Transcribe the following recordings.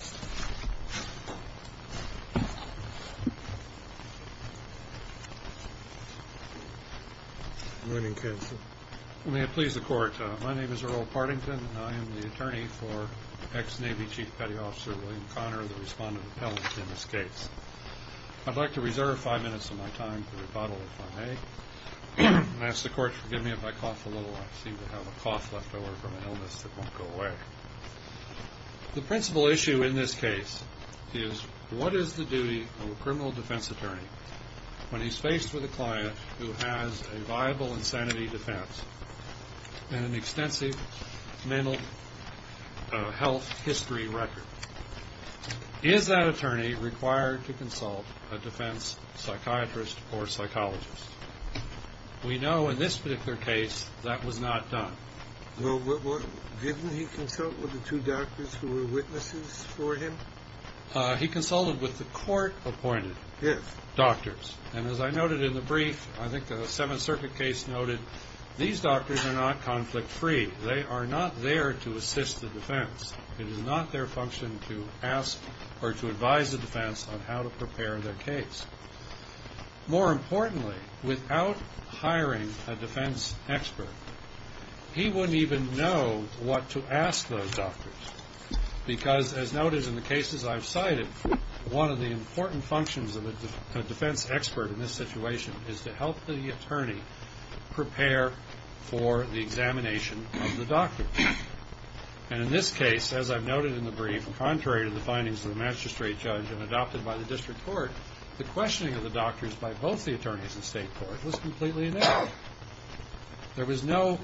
Good morning, counsel. May it please the court, my name is Earl Partington, and I am the attorney for ex-Navy Chief Petty Officer William Connor, the respondent of Pellington Escapes. I'd like to reserve five minutes of my time for the rebuttal if I may, and ask the court to forgive me if I cough a little. I seem to have a cough left over from an illness that won't go away. The principal issue in this case is what is the duty of a criminal defense attorney when he's faced with a client who has a viable insanity defense and an extensive mental health history record? Is that attorney required to consult a defense psychiatrist or psychologist? We know in this particular case that was not done. Didn't he consult with the two doctors who were witnesses for him? I don't even know what to ask those doctors, because as noted in the cases I've cited, one of the important functions of a defense expert in this situation is to help the attorney prepare for the examination of the doctors. And in this case, as I've noted in the brief, contrary to the findings of the magistrate judge and adopted by the district court, the questioning of the doctors by both the attorneys and state court was completely inaccurate. There was no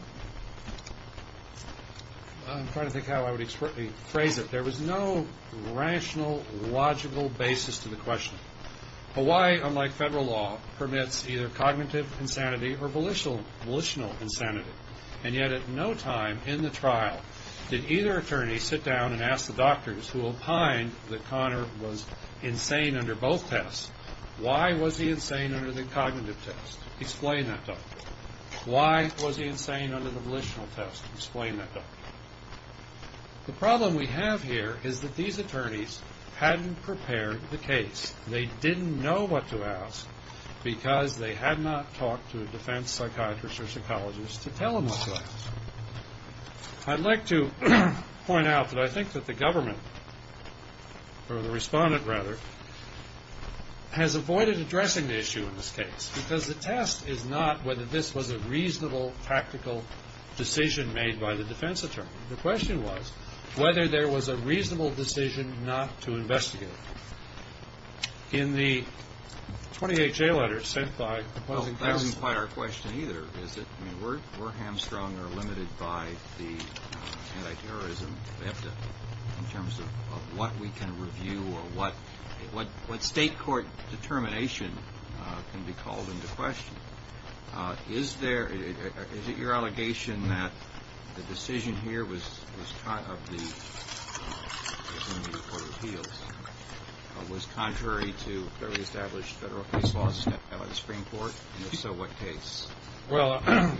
rational, logical basis to the question. Hawaii, unlike federal law, permits either cognitive insanity or volitional insanity. And yet at no time in the trial did either attorney sit down and ask the doctors who opined that Connor was insane under both tests, why was he insane under the cognitive test? Explain that, doctor. Why was he insane under the volitional test? Explain that, doctor. The problem we have here is that these attorneys hadn't prepared the case. They didn't know what to ask, because they had not talked to a defense psychiatrist or psychologist to tell them what to ask. I'd like to point out that I think that the government, or the respondent rather, has avoided addressing the issue in this case, because the test is not whether this was a reasonable, practical decision made by the defense attorney. The question was whether there was a reasonable decision not to investigate. In the 28-J letter sent by opposing counsel... Well, the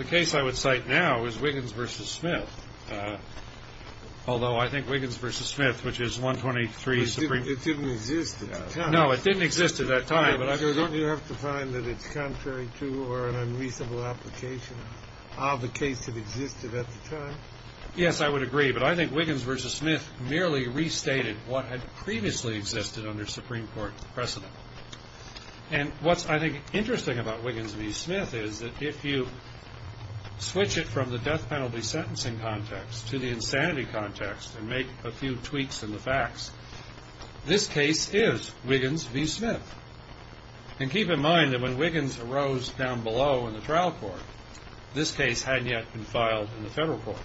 case I would cite now is Wiggins v. Smith, although I think Wiggins v. Smith, which is 123... It didn't exist at the time. No, it didn't exist at that time. So don't you have to find that it's contrary to or an unreasonable application of the case that existed at the time? Yes, I would agree, but I think Wiggins v. Smith merely restated what had previously existed under Supreme Court precedent. And what's, I think, interesting about Wiggins v. Smith is that if you switch it from the death penalty sentencing context to the insanity context and make a few tweaks in the facts, this case is Wiggins v. Smith. And keep in mind that when Wiggins arose down below in the trial court, this case had yet been filed in the federal court.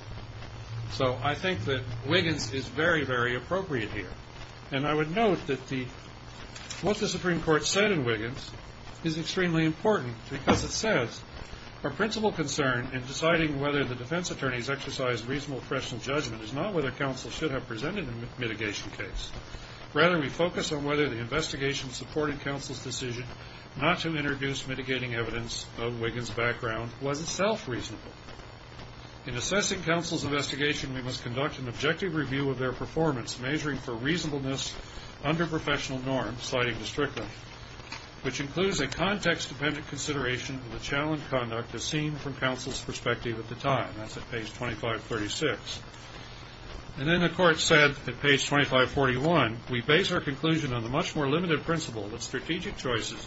So I think that Wiggins is very, very appropriate here. And I would note that what the Supreme Court said in Wiggins is extremely important, because it says, Our principal concern in deciding whether the defense attorneys exercise reasonable professional judgment is not whether counsel should have presented a mitigation case. Rather, we focus on whether the investigation supporting counsel's decision not to introduce mitigating evidence of Wiggins' background was itself reasonable. In assessing counsel's investigation, we must conduct an objective review of their performance, measuring for reasonableness under professional norms, citing district law, which includes a context-dependent consideration of the challenge conduct as seen from counsel's perspective at the time. That's at page 2536. And then the court said at page 2541, We base our conclusion on the much more limited principle that strategic choices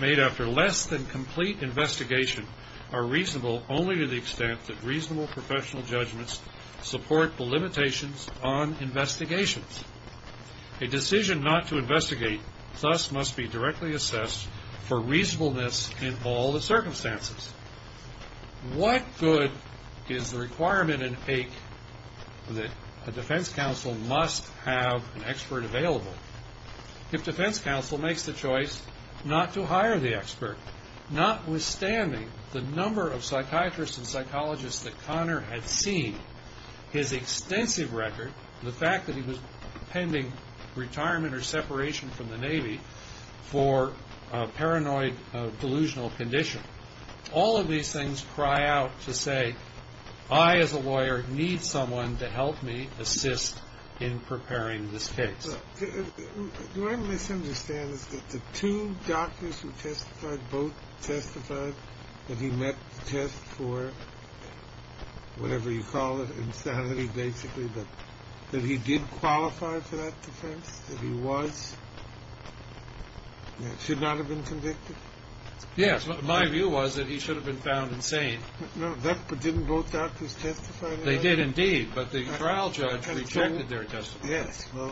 made after less than complete investigation are reasonable only to the extent that reasonable professional judgments support the limitations on investigations. A decision not to investigate thus must be directly assessed for reasonableness in all the circumstances. What good is the requirement in AIC that a defense counsel must have an expert available if defense counsel makes the choice not to hire the expert, notwithstanding the number of psychiatrists and psychologists that Connor had seen, his extensive record, the fact that he was pending retirement or separation from the Navy for a paranoid delusional condition. All of these things cry out to say, I as a lawyer need someone to help me assist in preparing this case. Do I misunderstand that the two doctors who testified, both testified that he met the test for whatever you call it, insanity, basically, that he did qualify for that defense, that he was, should not have been convicted? Yes, my view was that he should have been found insane. Didn't both doctors testify? They did indeed, but the trial judge rejected their testimony. Yes, well,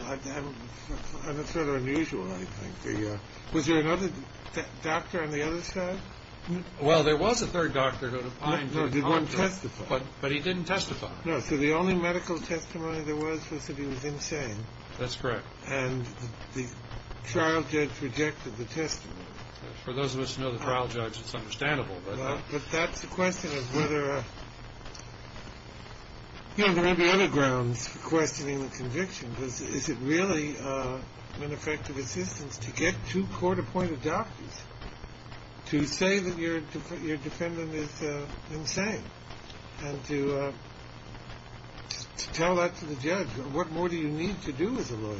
I'm a sort of unusual, I think. Was there another doctor on the other side? Well, there was a third doctor who did testify, but he didn't testify. No, so the only medical testimony there was was that he was insane. That's correct. And the trial judge rejected the testimony. For those of us who know the trial judge, it's understandable. But that's the question of whether, you know, there may be other grounds for questioning the conviction, because is it really an effective assistance to get two court-appointed doctors to say that your defendant is insane and to tell that to the judge? What more do you need to do as a lawyer?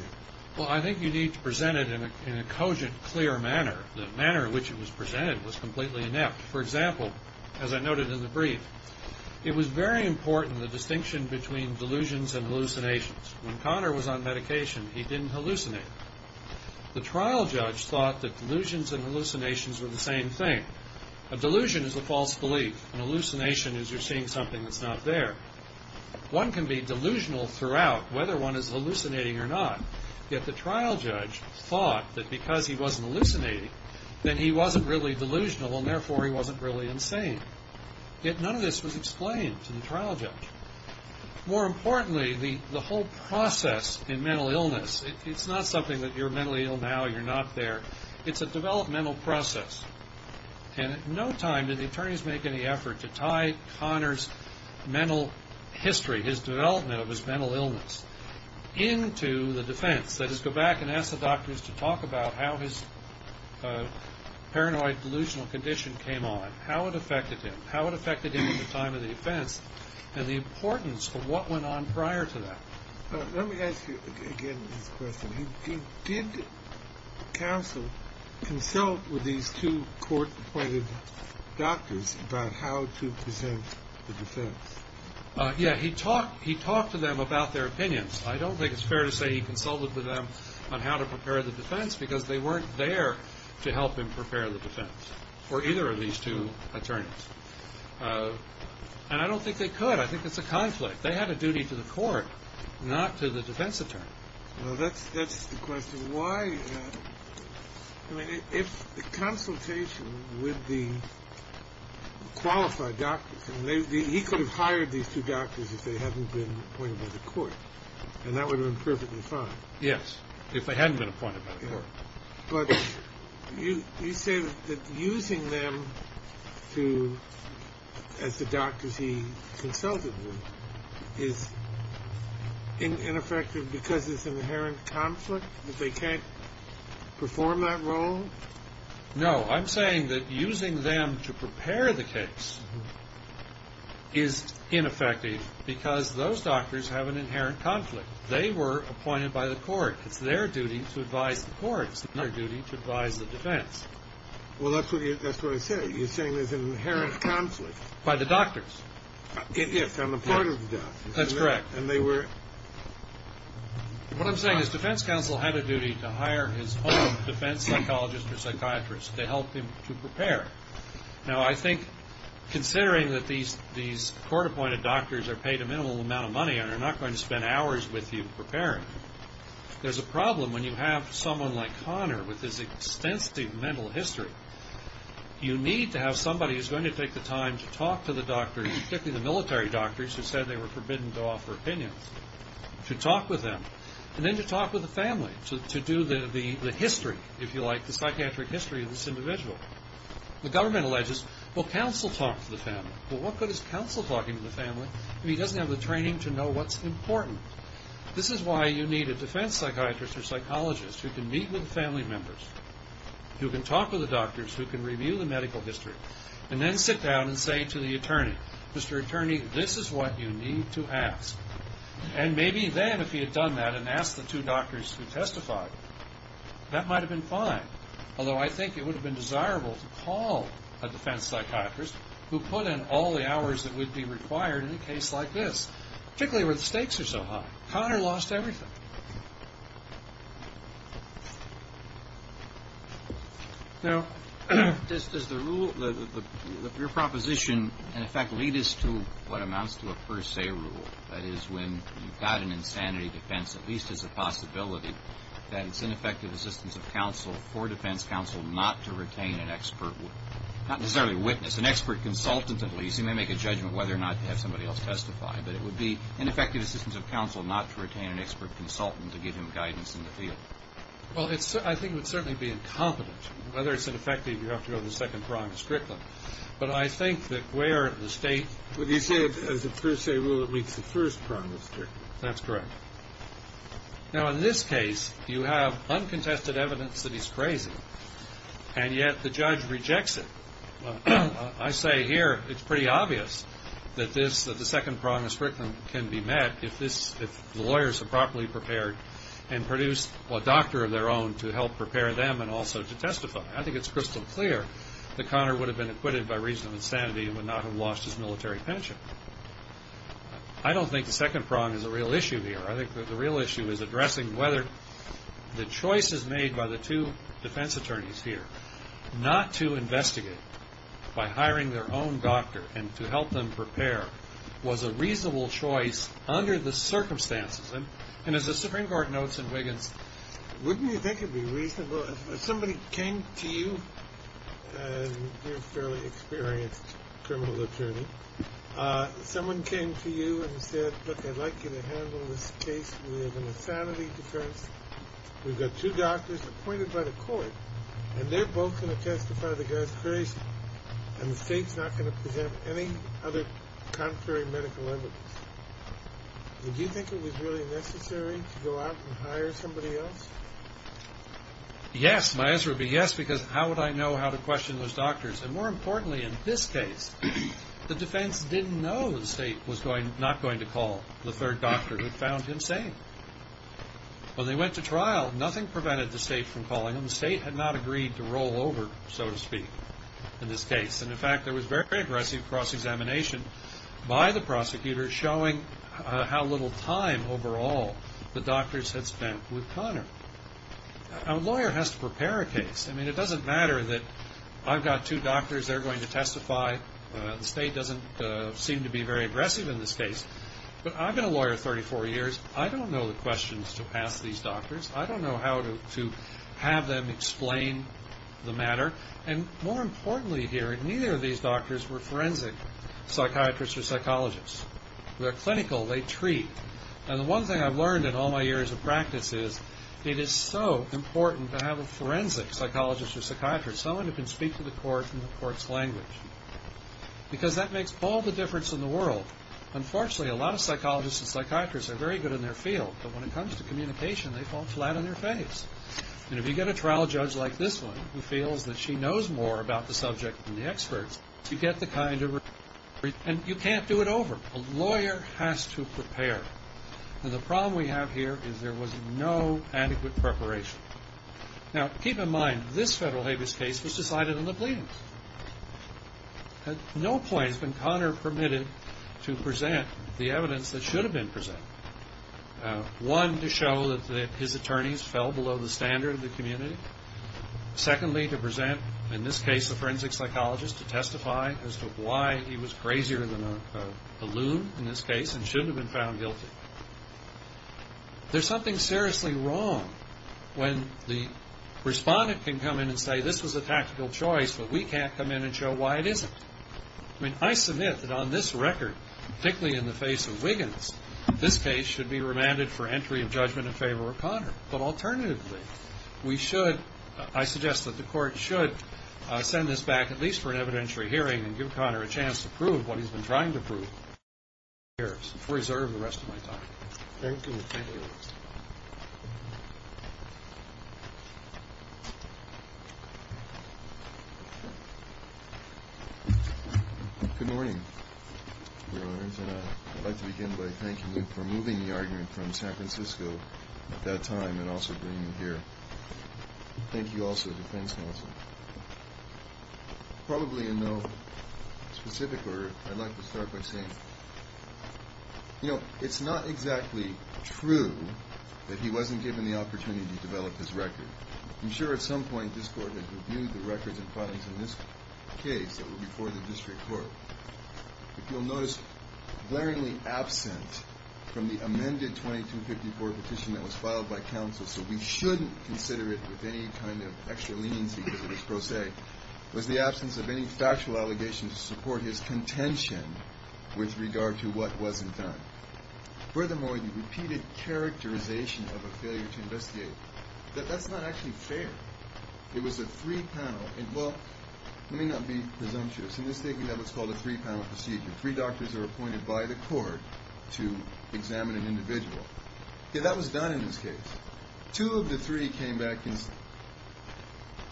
Well, I think you need to present it in a cogent, clear manner. The manner in which it was presented was completely inept. For example, as I noted in the brief, it was very important the distinction between delusions and hallucinations. When Connor was on medication, he didn't hallucinate. The trial judge thought that delusions and hallucinations were the same thing. A delusion is a false belief. An hallucination is you're seeing something that's not there. One can be delusional throughout whether one is hallucinating or not. Yet the trial judge thought that because he wasn't hallucinating, then he wasn't really delusional, and therefore he wasn't really insane. Yet none of this was explained to the trial judge. More importantly, the whole process in mental illness, it's not something that you're mentally ill now, you're not there. It's a developmental process. And at no time did the attorneys make any effort to tie Connor's mental history, his development of his mental illness, into the defense. That is, go back and ask the doctors to talk about how his paranoid delusional condition came on, how it affected him, how it affected him at the time of the offense, and the importance of what went on prior to that. Let me ask you again this question. Did counsel consult with these two court-appointed doctors about how to present the defense? Yeah, he talked to them about their opinions. I don't think it's fair to say he consulted with them on how to prepare the defense because they weren't there to help him prepare the defense, or either of these two attorneys. And I don't think they could. I think it's a conflict. They had a duty to the court, not to the defense attorney. Well, that's the question. I mean, if the consultation with the qualified doctors, he could have hired these two doctors if they hadn't been appointed by the court, and that would have been perfectly fine. Yes, if they hadn't been appointed by the court. But you say that using them as the doctors he consulted with is ineffective because it's an inherent conflict, that they can't perform that role? No, I'm saying that using them to prepare the case is ineffective because those doctors have an inherent conflict. They were appointed by the court. It's their duty to advise the court. It's their duty to advise the defense. Well, that's what I said. You're saying there's an inherent conflict. By the doctors. Yes, on the part of the doctors. That's correct. What I'm saying is defense counsel had a duty to hire his own defense psychologist or psychiatrist to help him to prepare. Now, I think considering that these court-appointed doctors are paid a minimal amount of money and are not going to spend hours with you preparing, there's a problem when you have someone like Connor with his extensive mental history. You need to have somebody who's going to take the time to talk to the doctors, particularly the military doctors who said they were forbidden to offer opinions, to talk with them and then to talk with the family to do the history, if you like, the psychiatric history of this individual. The government alleges, well, counsel talked to the family. Well, what good is counsel talking to the family if he doesn't have the training to know what's important? This is why you need a defense psychiatrist or psychologist who can meet with the family members, who can talk with the doctors, who can review the medical history, and then sit down and say to the attorney, Mr. Attorney, this is what you need to ask. And maybe then, if he had done that and asked the two doctors to testify, that might have been fine, although I think it would have been desirable to call a defense psychiatrist who put in all the hours that would be required in a case like this, particularly where the stakes are so high. Connor lost everything. No? Does the rule, your proposition, in effect lead us to what amounts to a per se rule? That is, when you've got an insanity defense, at least there's a possibility that it's ineffective assistance of counsel for defense counsel not to retain an expert, not necessarily a witness, an expert consultant at least. You may make a judgment whether or not to have somebody else testify, but it would be ineffective assistance of counsel not to retain an expert consultant. Well, I think it would certainly be incompetent. Whether it's ineffective, you have to go to the second prong of Strickland. But I think that where the state... But you said, as a per se rule, it meets the first prong of Strickland. That's correct. Now, in this case, you have uncontested evidence that he's crazy, and yet the judge rejects it. I say here it's pretty obvious that the second prong of Strickland can be met if the lawyers are properly prepared and produce a doctor of their own to help prepare them and also to testify. I think it's crystal clear that Conor would have been acquitted by reason of insanity and would not have lost his military pension. I don't think the second prong is a real issue here. I think the real issue is addressing whether the choices made by the two defense attorneys here not to investigate by hiring their own doctor and to help them prepare was a reasonable choice under the circumstances. And as the Supreme Court notes in Wiggins, wouldn't you think it would be reasonable if somebody came to you, a fairly experienced criminal attorney, someone came to you and said, Look, I'd like you to handle this case with an insanity defense. We've got two doctors appointed by the court, and they're both going to testify to the guy's craziness. And the state's not going to present any other contrary medical evidence. Would you think it was really necessary to go out and hire somebody else? Yes, it might as well be yes, because how would I know how to question those doctors? And more importantly, in this case, the defense didn't know the state was not going to call the third doctor who found him sane. When they went to trial, nothing prevented the state from calling him. The state had not agreed to roll over, so to speak. In this case. And, in fact, there was very aggressive cross-examination by the prosecutors showing how little time overall the doctors had spent with Connor. A lawyer has to prepare a case. I mean, it doesn't matter that I've got two doctors. They're going to testify. The state doesn't seem to be very aggressive in this case. But I've been a lawyer 34 years. I don't know the questions to ask these doctors. I don't know how to have them explain the matter. And, more importantly here, neither of these doctors were forensic psychiatrists or psychologists. They're clinical. They treat. And the one thing I've learned in all my years of practice is it is so important to have a forensic psychologist or psychiatrist, someone who can speak to the court in the court's language, because that makes all the difference in the world. Unfortunately, a lot of psychologists and psychiatrists are very good in their field, but when it comes to communication, they fall flat on their face. And if you get a trial judge like this one, who feels that she knows more about the subject than the experts, you get the kind of response. And you can't do it over. A lawyer has to prepare. And the problem we have here is there was no adequate preparation. Now, keep in mind, this federal habeas case was decided in the pleadings. At no point has been Connor permitted to present the evidence that should have been presented, one, to show that his attorneys fell below the standard of the community, secondly, to present, in this case, a forensic psychologist to testify as to why he was crazier than a balloon, in this case, and shouldn't have been found guilty. There's something seriously wrong when the respondent can come in and say, this was a tactical choice, but we can't come in and show why it isn't. I mean, I submit that on this record, particularly in the face of Wiggins, this case should be remanded for entry of judgment in favor of Connor. But alternatively, we should ‑‑ I suggest that the court should send this back at least for an evidentiary hearing and give Connor a chance to prove what he's been trying to prove. I reserve the rest of my time. Thank you. Good morning, Your Honors, and I'd like to begin by thanking you for moving the argument from San Francisco at that time and also bringing it here. Thank you also to the defense counsel. Probably in no specific order, I'd like to start by saying, you know, it's not exactly true that he wasn't given the opportunity to develop his record. I'm sure at some point this court has reviewed the records and findings in this case that were before the district court. If you'll notice, glaringly absent from the amended 2254 petition that was filed by counsel, so we shouldn't consider it with any kind of extra leniency because it was pro se, was the absence of any factual allegations to support his contention with regard to what wasn't done. Furthermore, the repeated characterization of a failure to investigate. That's not actually fair. It was a three‑panel. Well, let me not be presumptuous in mistaking that what's called a three‑panel procedure. Three doctors are appointed by the court to examine an individual. Okay, that was done in this case. Two of the three came back insane.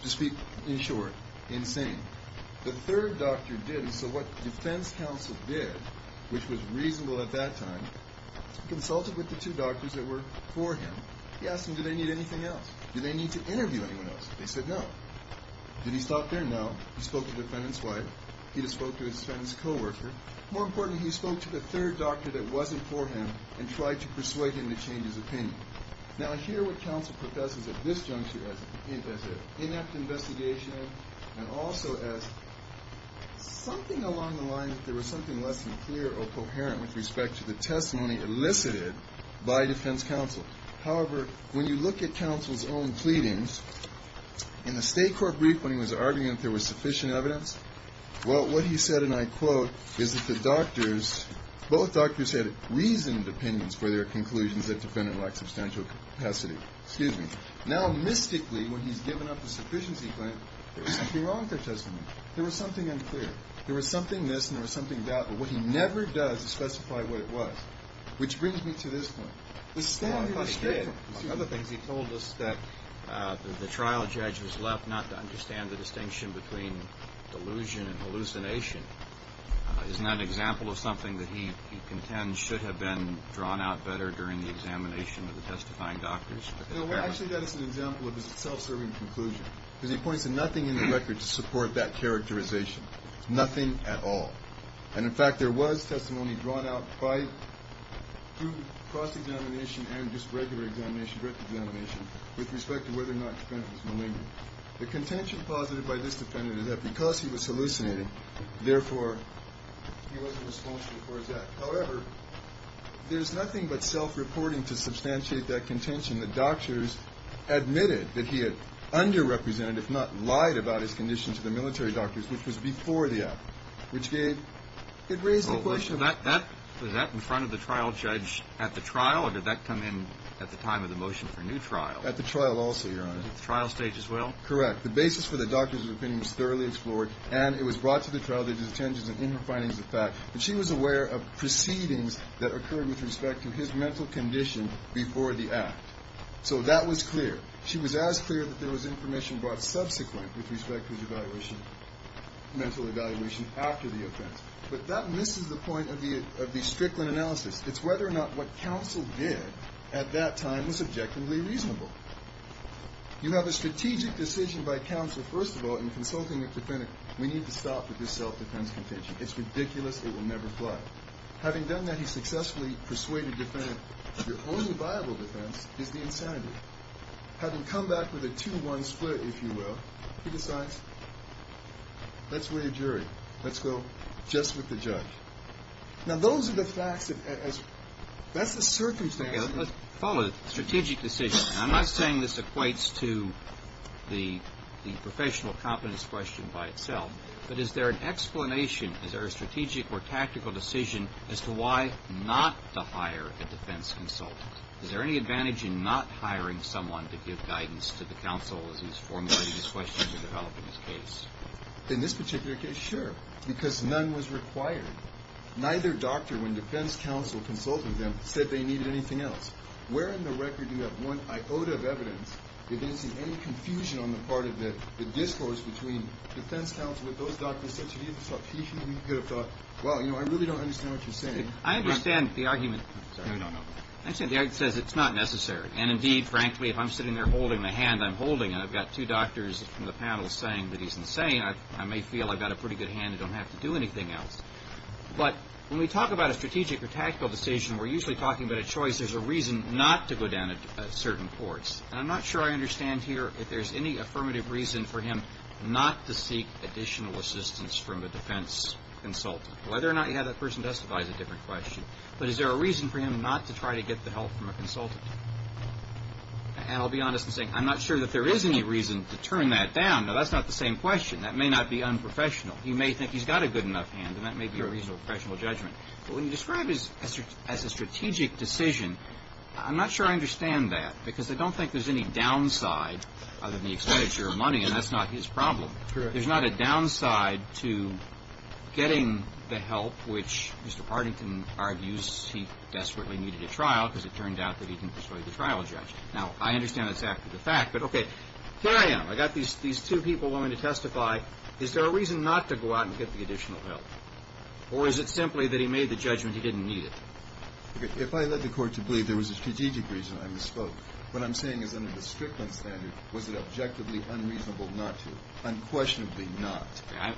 To speak in short, insane. The third doctor did, so what defense counsel did, which was reasonable at that time, consulted with the two doctors that were for him. He asked them, do they need anything else? Do they need to interview anyone else? They said no. Did he stop there? No. He spoke to the defendant's wife. He spoke to his friend's coworker. More importantly, he spoke to the third doctor that wasn't for him and tried to persuade him to change his opinion. Now, I hear what counsel professes at this juncture as an inept investigation and also as something along the lines that there was something less than clear or coherent with respect to the testimony elicited by defense counsel. However, when you look at counsel's own pleadings, in the State Court brief when he was arguing that there was sufficient evidence, well, what he said, and I quote, is that the doctors, both doctors had reasoned opinions for their conclusions that the defendant lacked substantial capacity. Excuse me. Now, mystically, when he's given up the sufficiency claim, there was something wrong with their testimony. There was something unclear. There was something this and there was something that, but what he never does is specify what it was, which brings me to this point. The stand here was straightforward. One of the things he told us that the trial judge was left not to understand the distinction between delusion and hallucination. Isn't that an example of something that he contends should have been drawn out better during the examination of the testifying doctors? No, actually that is an example of his self-serving conclusion, because he points to nothing in the record to support that characterization, nothing at all. And, in fact, there was testimony drawn out by, through cross-examination and just regular examination, direct examination, with respect to whether or not the defendant was malignant. The contention posited by this defendant is that because he was hallucinating, therefore, he wasn't responsible for his act. However, there's nothing but self-reporting to substantiate that contention that doctors admitted that he had underrepresented, if not lied about his condition to the military doctors, which was before the act, which gave – it raised the question of – Was that in front of the trial judge at the trial, or did that come in at the time of the motion for new trial? At the trial also, Your Honor. At the trial stage as well? Correct. The basis for the doctor's opinion was thoroughly explored, and it was brought to the trial judge's attention in her findings of fact. And she was aware of proceedings that occurred with respect to his mental condition before the act. So that was clear. She was as clear that there was information brought subsequent with respect to his evaluation, mental evaluation, after the offense. But that misses the point of the Strickland analysis. It's whether or not what counsel did at that time was objectively reasonable. You have a strategic decision by counsel, first of all, in consulting a defendant. We need to stop with this self-defense contention. It's ridiculous. It will never fly. Having done that, he successfully persuaded the defendant, your only viable defense is the insanity. Having come back with a two-one split, if you will, he decides, let's weigh a jury. Let's go just with the judge. Now, those are the facts. That's the circumstance. Let's follow the strategic decision. I'm not saying this equates to the professional competence question by itself, but is there an explanation, is there a strategic or tactical decision as to why not to hire a defense consultant? Is there any advantage in not hiring someone to give guidance to the counsel as he's formulating his questions or developing his case? In this particular case, sure, because none was required. Neither doctor, when defense counsel consulted them, said they needed anything else. Where in the record do you have one iota of evidence if you didn't see any confusion on the part of the discourse between defense counsel with those doctors such that he could have thought, well, you know, I really don't understand what you're saying. I understand the argument. No, no, no. Actually, the argument says it's not necessary, and indeed, frankly, if I'm sitting there holding the hand I'm holding, and I've got two doctors from the panel saying that he's insane, I may feel I've got a pretty good hand and don't have to do anything else. But when we talk about a strategic or tactical decision, we're usually talking about a choice. There's a reason not to go down a certain course, and I'm not sure I understand here if there's any affirmative reason for him not to seek additional assistance from a defense consultant. Whether or not you have that person testify is a different question, but is there a reason for him not to try to get the help from a consultant? And I'll be honest in saying I'm not sure that there is any reason to turn that down. Now, that's not the same question. That may not be unprofessional. He may think he's got a good enough hand, and that may be a reasonable professional judgment. But when you describe it as a strategic decision, I'm not sure I understand that because I don't think there's any downside other than the expenditure of money, and that's not his problem. There's not a downside to getting the help which Mr. Partington argues he desperately needed at trial because it turned out that he didn't persuade the trial judge. Now, I understand that's after the fact, but, okay, here I am. I've got these two people wanting to testify. Is there a reason not to go out and get the additional help, or is it simply that he made the judgment he didn't need it? If I led the court to believe there was a strategic reason I misspoke, what I'm saying is under the Strickland standard was it objectively unreasonable not to, unquestionably not.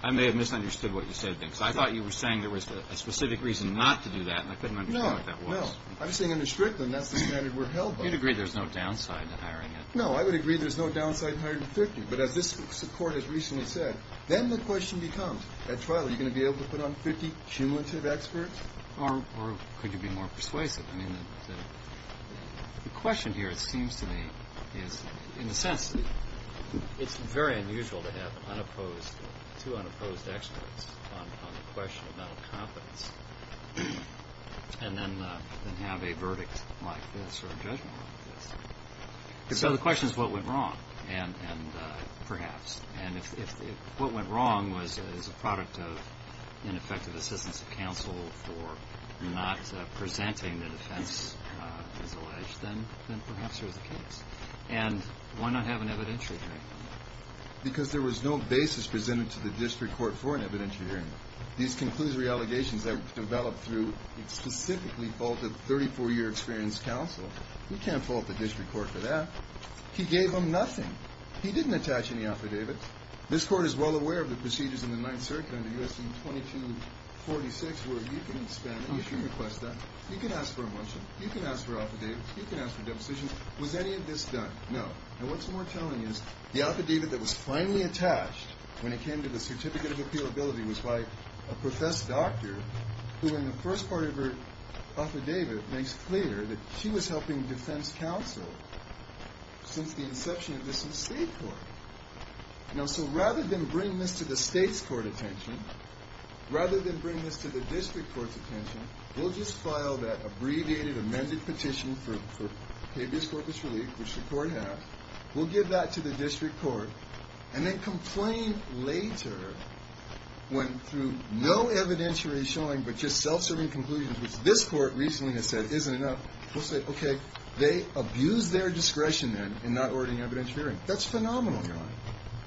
I may have misunderstood what you said. I thought you were saying there was a specific reason not to do that, and I couldn't understand what that was. No, no. I'm saying under Strickland that's the standard we're held by. You'd agree there's no downside to hiring him. No, I would agree there's no downside in hiring a 50, but as this Court has recently said, then the question becomes at trial, are you going to be able to put on 50 cumulative experts? Or could you be more persuasive? I mean, the question here, it seems to me, is in a sense, it's very unusual to have two unopposed experts on the question of mental competence and then have a verdict like this or a judgment like this. So the question is what went wrong, perhaps. And if what went wrong is a product of ineffective assistance of counsel for not presenting the defense as alleged, then perhaps there's a case. And why not have an evidentiary hearing? Because there was no basis presented to the district court for an evidentiary hearing. These conclusory allegations that were developed through specifically faulted 34-year experience counsel, you can't fault the district court for that. He gave them nothing. He didn't attach any affidavits. This Court is well aware of the procedures in the Ninth Circuit under U.S.C. 2246 where you can expand it if you request that. You can ask for a motion. You can ask for affidavits. You can ask for depositions. Was any of this done? No. And what's more telling is the affidavit that was finally attached when it came to the certificate of appealability was by a professed doctor who in the first part of her affidavit makes clear that she was helping defense counsel since the inception of this in state court. Now, so rather than bring this to the state's court attention, rather than bring this to the district court's attention, we'll just file that abbreviated amended petition for habeas corpus relief, which the court has. We'll give that to the district court. And then complain later when through no evidentiary showing but just self-serving conclusions, which this court recently has said isn't enough, we'll say, okay, they abused their discretion then in not ordering evidentiary hearing. That's phenomenal, John.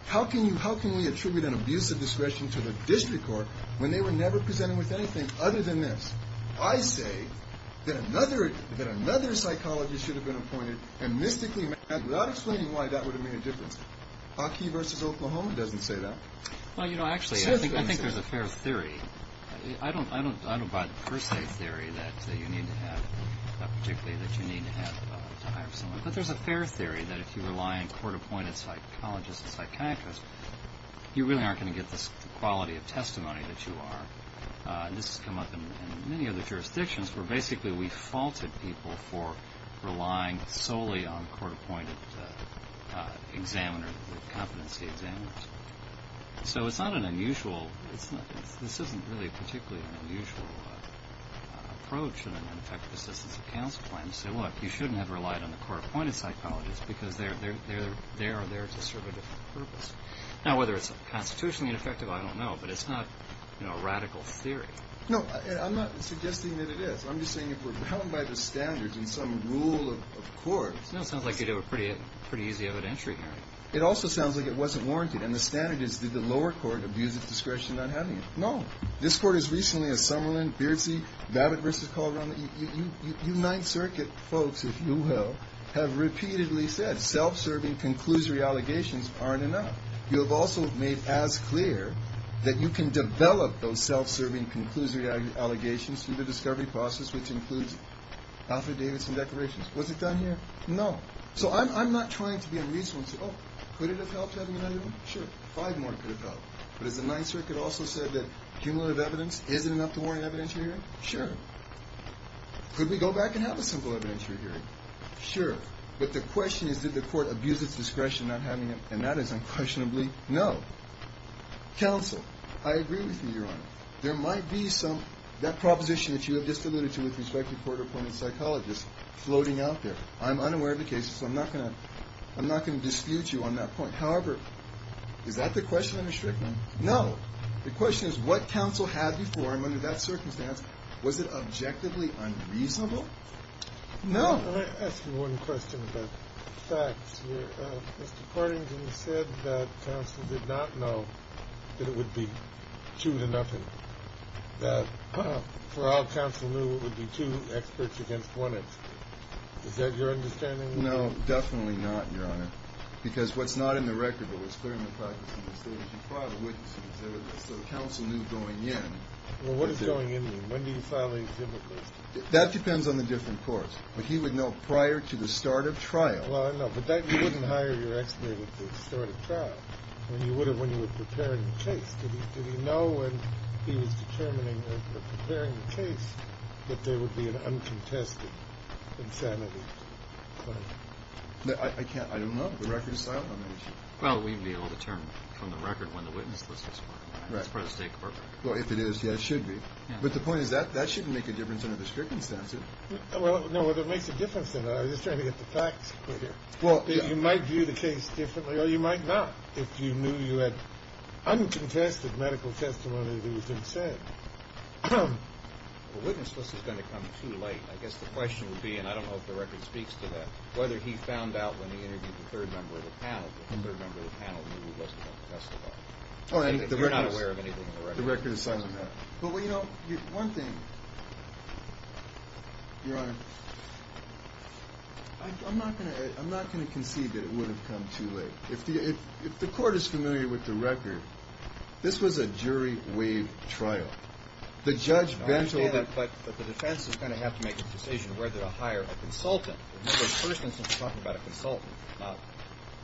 How can we attribute an abuse of discretion to the district court when they were never presented with anything other than this? I say that another psychologist should have been appointed and mystically without explaining why that would have made a difference. Aki versus Oklahoma doesn't say that. Well, you know, actually, I think there's a fair theory. I don't buy the per se theory that you need to have, particularly that you need to have to hire someone. But there's a fair theory that if you rely on court-appointed psychologists and psychiatrists, you really aren't going to get this quality of testimony that you are. This has come up in many other jurisdictions where basically we faulted people for relying solely on court-appointed examiners with competency examiners. So it's not an unusual – this isn't really particularly an unusual approach in an effective assistance of counsel plan to say, look, you shouldn't have relied on the court-appointed psychologists because they are there to serve a different purpose. Now, whether it's constitutionally ineffective, I don't know, but it's not a radical theory. No, I'm not suggesting that it is. I'm just saying if we're bound by the standards in some rule of court. No, it sounds like you'd have a pretty easy evidentiary hearing. It also sounds like it wasn't warranted, and the standard is did the lower court abuse its discretion on having it. No. This court has recently, as Summerlin, Beardsley, Babbitt versus Calderon, you Ninth Circuit folks, if you will, have repeatedly said self-serving conclusory allegations aren't enough. You have also made as clear that you can develop those self-serving conclusory allegations through the discovery process, which includes Alfred Davidson declarations. Was it done here? No. So I'm not trying to be unreasonable and say, oh, could it have helped having another one? Sure. Five more could have helped. But has the Ninth Circuit also said that cumulative evidence isn't enough to warrant an evidentiary hearing? Sure. Could we go back and have a simple evidentiary hearing? Sure. But the question is did the court abuse its discretion on having it, and that is unquestionably no. Counsel, I agree with you, Your Honor. There might be some of that proposition that you have just alluded to with respect to court-appointed psychologists floating out there. I'm unaware of the case, so I'm not going to dispute you on that point. However, is that the question I'm restricting? No. The question is what counsel had before, and under that circumstance, was it objectively unreasonable? No. Let me ask you one question about facts here. Mr. Partington said that counsel did not know that it would be two to nothing, that for all counsel knew it would be two experts against one expert. Is that your understanding? No, definitely not, Your Honor, because what's not in the record, but what's clear in the practice of the state is you file a witness exhibit, so counsel knew going in. Well, what does going in mean? When do you file a exhibit list? That depends on the different courts, but he would know prior to the start of trial. Well, I know, but you wouldn't hire your expert at the start of trial when you would have when you were preparing the case. Did he know when he was determining or preparing the case that there would be an uncontested insanity claim? I can't. I don't know. The record is silent on that issue. Well, we'd be able to determine from the record when the witness list was filed. Right. That's part of the state court record. Well, if it is, yes, it should be. But the point is that that shouldn't make a difference under this circumstance. No, but it makes a difference. I'm just trying to get the facts clear. You might view the case differently, or you might not, if you knew you had uncontested medical testimony that you didn't say. The witness list is going to come too late. I guess the question would be, and I don't know if the record speaks to that, whether he found out when he interviewed the third member of the panel that the third member of the panel knew he wasn't going to testify. You're not aware of anything in the record. The record is silent on that. But, well, you know, one thing, Your Honor, I'm not going to concede that it would have come too late. If the court is familiar with the record, this was a jury-waived trial. The judge bent over. I understand it, but the defense is going to have to make a decision whether to hire a consultant. Remember, in the first instance, we're talking about a consultant. Now,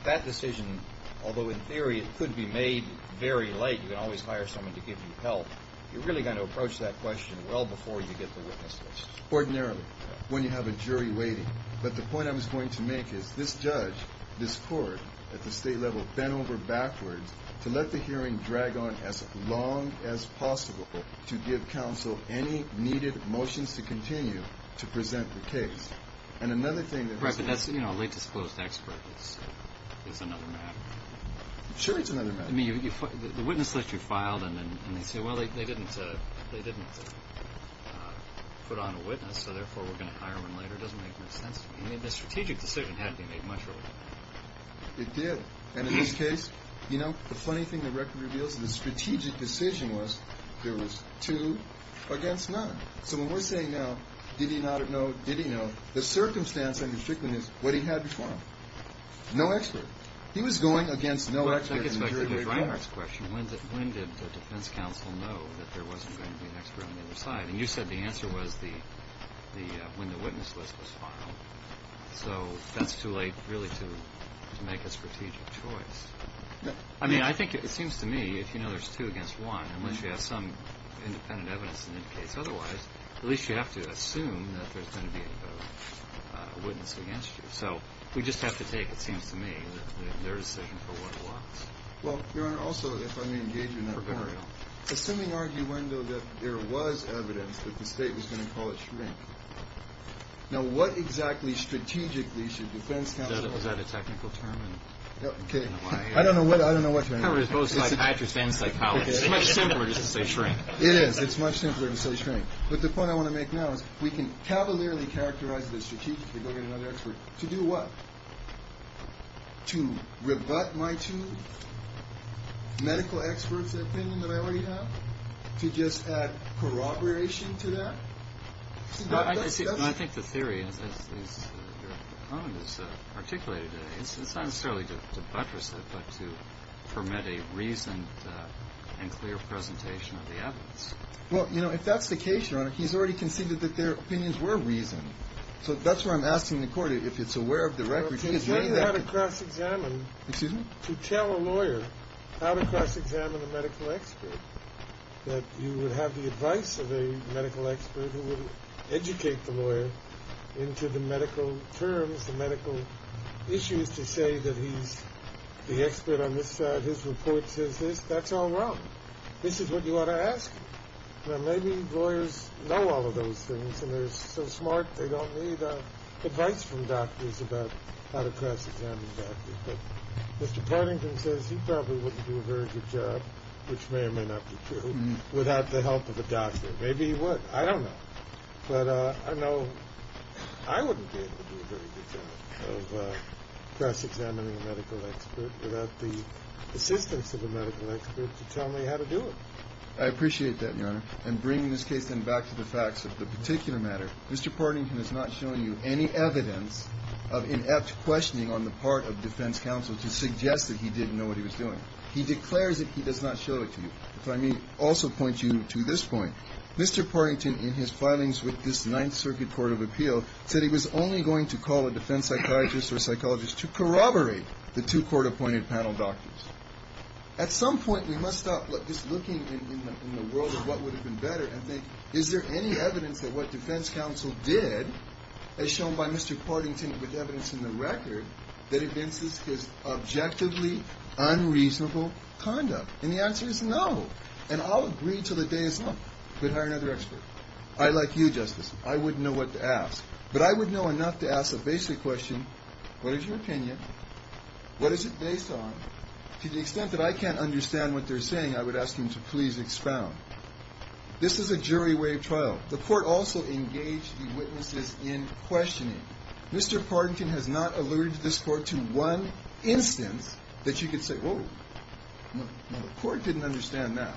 that decision, although in theory it could be made very late, you can always hire someone to give you help, you're really going to approach that question well before you get the witness list. Ordinarily, when you have a jury waiting. But the point I was going to make is this judge, this court, at the state level, bent over backwards to let the hearing drag on as long as possible to give counsel any needed motions to continue to present the case. And another thing that has to be said. Right, but that's, you know, a late-disposed expert is another matter. Sure, it's another matter. I mean, the witness list you filed, and they say, well, they didn't put on a witness, so therefore we're going to hire one later. It doesn't make much sense to me. I mean, the strategic decision had to be made much earlier. It did. And in this case, you know, the funny thing the record reveals is the strategic decision was there was two against none. So when we're saying now, did he not know, did he know, the circumstance I'm restricting is what he had before him. No expert. He was going against no expert. I think it's back to Ms. Reinhart's question. When did the defense counsel know that there wasn't going to be an expert on either side? And you said the answer was when the witness list was filed. So that's too late, really, to make a strategic choice. I mean, I think it seems to me, if you know there's two against one, unless you have some independent evidence that indicates otherwise, at least you have to assume that there's going to be a witness against you. So we just have to take, it seems to me, their decision for what it was. Well, Your Honor, also, if I may engage you in that point. Assuming, arguendo, that there was evidence that the state was going to call it shrink, now what exactly strategically should defense counsel do? Was that a technical term? I don't know what term. It's both psychiatrist and psychologist. It's much simpler just to say shrink. It is. It's much simpler to say shrink. But the point I want to make now is we can cavalierly characterize the strategic To do what? To rebut my two medical experts' opinion that I already have? To just add corroboration to that? I think the theory, as Your Honor has articulated, it's not necessarily to buttress it, but to permit a reasoned and clear presentation of the evidence. Well, you know, if that's the case, Your Honor, he's already conceded that their opinions were reasoned. So that's why I'm asking the court if it's aware of the record. Well, to tell you how to cross-examine. Excuse me? To tell a lawyer how to cross-examine a medical expert, that you would have the advice of a medical expert who would educate the lawyer into the medical terms, the medical issues, to say that he's the expert on this side, his report says this, that's all wrong. This is what you ought to ask him. Now, maybe lawyers know all of those things, and they're so smart they don't need advice from doctors about how to cross-examine doctors. But Mr. Partington says he probably wouldn't do a very good job, which may or may not be true, without the help of a doctor. Maybe he would. I don't know. But I know I wouldn't be able to do a very good job of cross-examining a medical expert without the assistance of a medical expert to tell me how to do it. I appreciate that, Your Honor. And bringing this case then back to the facts of the particular matter, Mr. Partington has not shown you any evidence of inept questioning on the part of defense counsel to suggest that he didn't know what he was doing. He declares that he does not show it to you. If I may also point you to this point. Mr. Partington, in his filings with this Ninth Circuit Court of Appeal, said he was only going to call a defense psychologist or psychologist to corroborate the two court-appointed panel doctors. At some point, we must stop just looking in the world for what would have been better and think, is there any evidence that what defense counsel did, as shown by Mr. Partington with evidence in the record, that evinces his objectively unreasonable conduct? And the answer is no. And I'll agree until the day is up. But hire another expert. I, like you, Justice, I wouldn't know what to ask. But I would know enough to ask a basic question. What is your opinion? What is it based on? To the extent that I can't understand what they're saying, I would ask him to please expound. This is a jury way of trial. The court also engaged the witnesses in questioning. Mr. Partington has not alluded to this court to one instance that you could say, whoa, the court didn't understand that.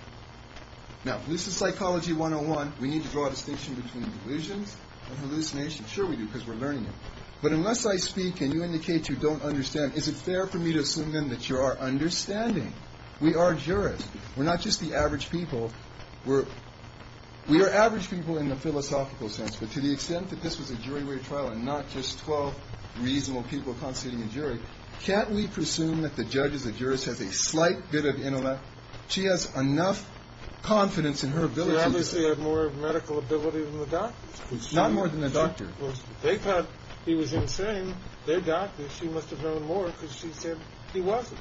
Now, if this is psychology 101, we need to draw a distinction between delusions and hallucinations. Sure we do, because we're learning it. But unless I speak and you indicate you don't understand, is it fair for me to assume then that you are understanding? We are jurists. We're not just the average people. We are average people in the philosophical sense. But to the extent that this was a jury way of trial and not just 12 reasonable people constituting a jury, can't we presume that the judge as a jurist has a slight bit of intellect? She has enough confidence in her ability. She obviously had more medical ability than the doctor. Not more than the doctor. They thought he was insane. Their doctor, she must have known more because she said he wasn't.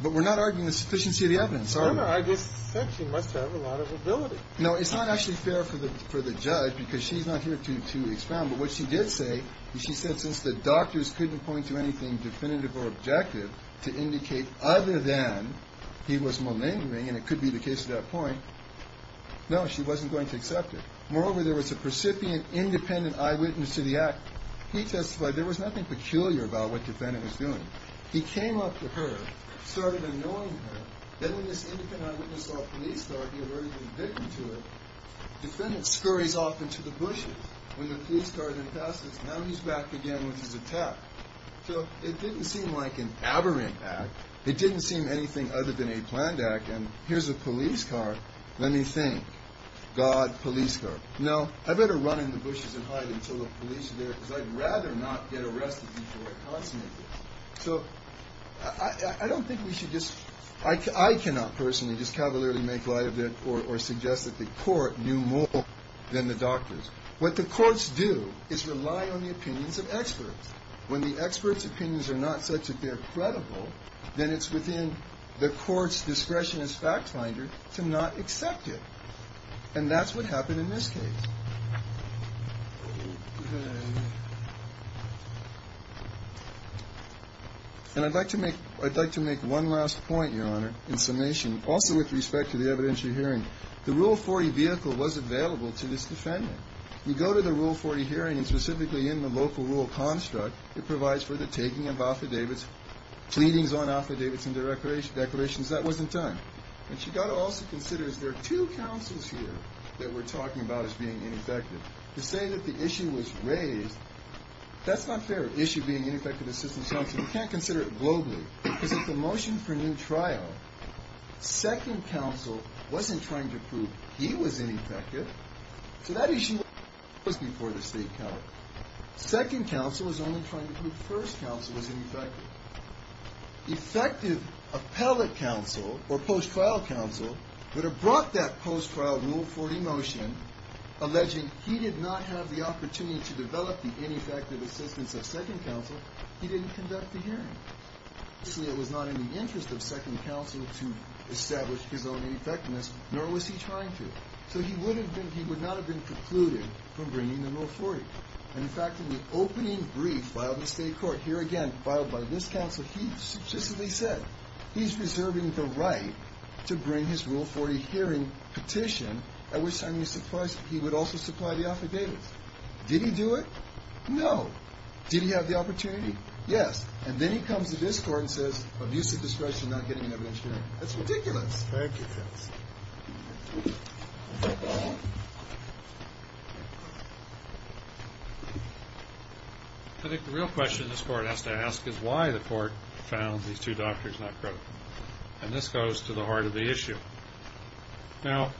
But we're not arguing the sufficiency of the evidence, are we? No, no. I just said she must have a lot of ability. No, it's not actually fair for the judge because she's not here to expound. But what she did say, she said since the doctors couldn't point to anything definitive or objective to indicate other than he was malingering, and it could be the case at that point, no, she wasn't going to accept it. Moreover, there was a precipient independent eyewitness to the act. He testified there was nothing peculiar about what the defendant was doing. He came up to her, started annoying her. Then when this independent eyewitness saw a police car, he alerted the defendant to it. The defendant scurries off into the bushes. When the police car then passes, now he's back again with his attack. So it didn't seem like an aberrant act. It didn't seem anything other than a planned act. And here's a police car. Let me think. God, police car. No, I'd better run in the bushes and hide until the police are there because I'd rather not get arrested before I consummate this. So I don't think we should just – I cannot personally just cavalierly make light of it or suggest that the court knew more than the doctors. What the courts do is rely on the opinions of experts. When the experts' opinions are not such that they're credible, then it's within the court's discretion as fact finder to not accept it. And that's what happened in this case. Okay. And I'd like to make one last point, Your Honor, in summation, also with respect to the evidentiary hearing. The Rule 40 vehicle was available to this defendant. You go to the Rule 40 hearing, and specifically in the local rule construct, it provides for the taking of affidavits, pleadings on affidavits and declarations. That wasn't done. And you've got to also consider there are two counsels here that we're talking about as being ineffective. To say that the issue was raised, that's not fair, the issue being ineffective assistance counsel. You can't consider it globally. Because if the motion for new trial, second counsel wasn't trying to prove he was ineffective, so that issue was before the state counsel. Second counsel was only trying to prove first counsel was ineffective. Effective appellate counsel or post-trial counsel that have brought that post-trial Rule 40 motion, alleging he did not have the opportunity to develop the ineffective assistance of second counsel, he didn't conduct the hearing. Obviously, it was not in the interest of second counsel to establish his own ineffectiveness, nor was he trying to. So he would not have been precluded from bringing the Rule 40. In fact, in the opening brief filed in the state court, here again, filed by this counsel, he substantively said he's reserving the right to bring his Rule 40 hearing petition, at which time he would also supply the affidavits. Did he do it? No. Did he have the opportunity? Yes. And then he comes to this court and says, abusive discretion, not getting evidence. That's ridiculous. Thank you, Chris. I think the real question this court has to ask is why the court found these two doctors not credible. And this goes to the heart of the issue. Now,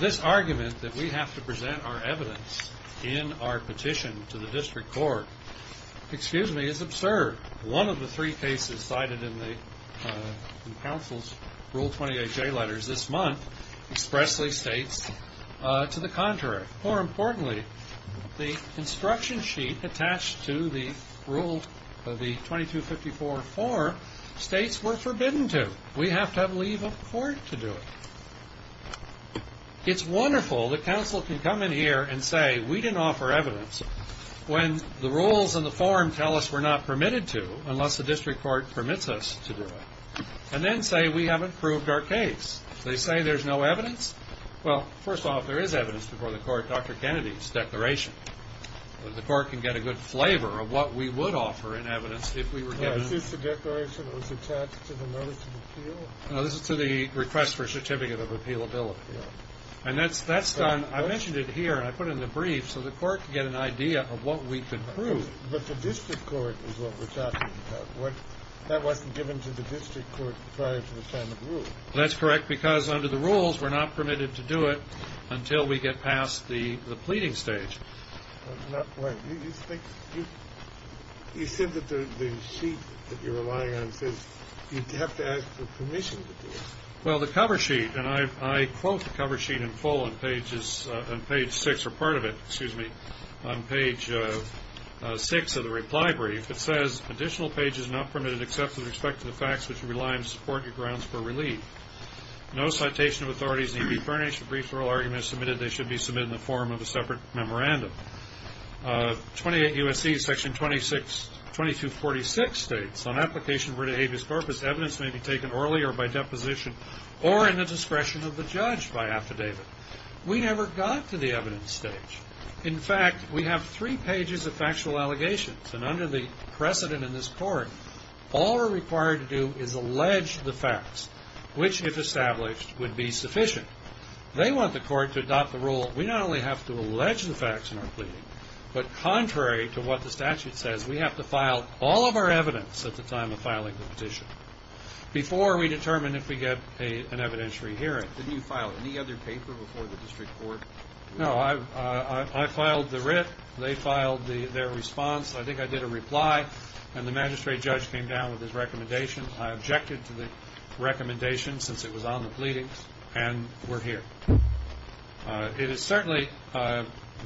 this argument that we have to present our evidence in our petition to the district court, excuse me, is absurd. One of the three cases cited in the counsel's Rule 28J letters this month expressly states to the contrary. More importantly, the instruction sheet attached to the Rule 2254 form states we're forbidden to. We have to have leave of court to do it. It's wonderful the counsel can come in here and say, we didn't offer evidence when the rules in the form tell us we're not permitted to, unless the district court permits us to do it, and then say we haven't proved our case. They say there's no evidence. Well, first off, there is evidence before the court, Dr. Kennedy's declaration. The court can get a good flavor of what we would offer in evidence if we were given it. Is this the declaration that was attached to the notice of appeal? No, this is to the request for a certificate of appealability. And that's done. I mentioned it here, and I put it in the brief, so the court could get an idea of what we could prove. But the district court is what we're talking about. That wasn't given to the district court prior to the time of rule. That's correct, because under the rules, we're not permitted to do it until we get past the pleading stage. You said that the sheet that you're relying on says you have to ask for permission to do it. Well, the cover sheet, and I quote the cover sheet in full on page 6, or part of it, excuse me, on page 6 of the reply brief. It says, additional pages are not permitted except with respect to the facts which you rely on to support your grounds for relief. No citation of authorities need be furnished. If a brief oral argument is submitted, they should be submitted in the form of a separate memorandum. 28 U.S.C. section 2246 states, on application of written habeas corpus, evidence may be taken orally or by deposition or in the discretion of the judge by affidavit. We never got to the evidence stage. In fact, we have three pages of factual allegations, all we're required to do is allege the facts. Which, if established, would be sufficient. They want the court to adopt the rule, we not only have to allege the facts in our pleading, but contrary to what the statute says, we have to file all of our evidence at the time of filing the petition before we determine if we get an evidentiary hearing. Didn't you file any other paper before the district court? No, I filed the writ. They filed their response. I think I did a reply, and the magistrate judge came down with his recommendation. I objected to the recommendation since it was on the pleadings, and we're here. It is certainly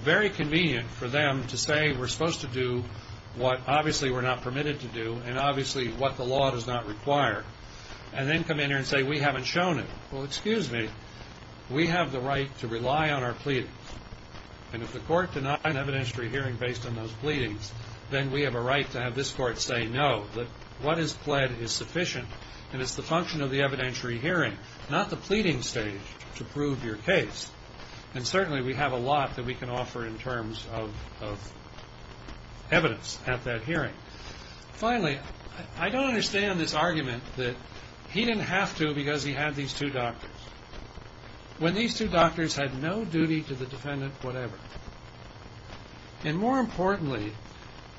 very convenient for them to say we're supposed to do what obviously we're not permitted to do and obviously what the law does not require, and then come in here and say we haven't shown it. Well, excuse me, we have the right to rely on our pleadings, and if the court denied evidentiary hearing based on those pleadings, then we have a right to have this court say no, that what is pled is sufficient, and it's the function of the evidentiary hearing, not the pleading stage to prove your case. And certainly we have a lot that we can offer in terms of evidence at that hearing. Finally, I don't understand this argument that he didn't have to because he had these two doctors when these two doctors had no duty to the defendant whatever. And more importantly,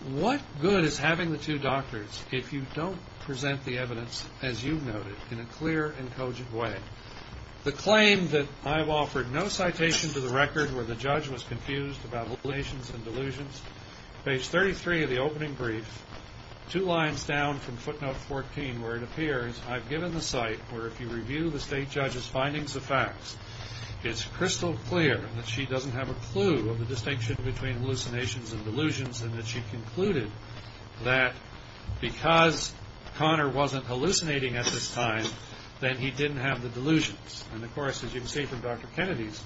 what good is having the two doctors if you don't present the evidence as you've noted in a clear and cogent way? The claim that I've offered no citation to the record where the judge was confused about delusions and delusions, page 33 of the opening brief, two lines down from footnote 14 where it appears I've given the site where if you review the state judge's findings of facts, it's crystal clear that she doesn't have a clue of the distinction between hallucinations and delusions and that she concluded that because Connor wasn't hallucinating at this time, then he didn't have the delusions. And of course, as you can see from Dr. Kennedy's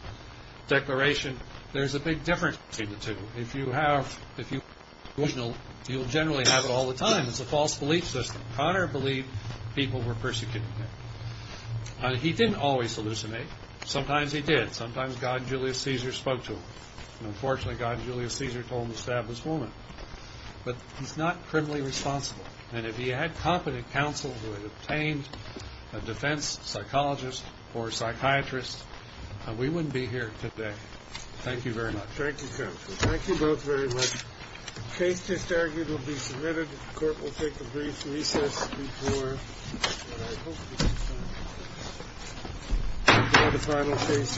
declaration, there's a big difference between the two. If you have delusions, you'll generally have it all the time. It's a false belief system. Connor believed people were persecuting him. He didn't always hallucinate. Sometimes he did. Sometimes God Julius Caesar spoke to him. And unfortunately, God Julius Caesar told him to stab this woman. But he's not criminally responsible. And if he had competent counsel who had obtained a defense psychologist or a psychiatrist, we wouldn't be here today. Thank you very much. Thank you, counsel. Thank you both very much. The case just argued will be submitted. The court will take a brief recess before what I hope will be the final case of the day.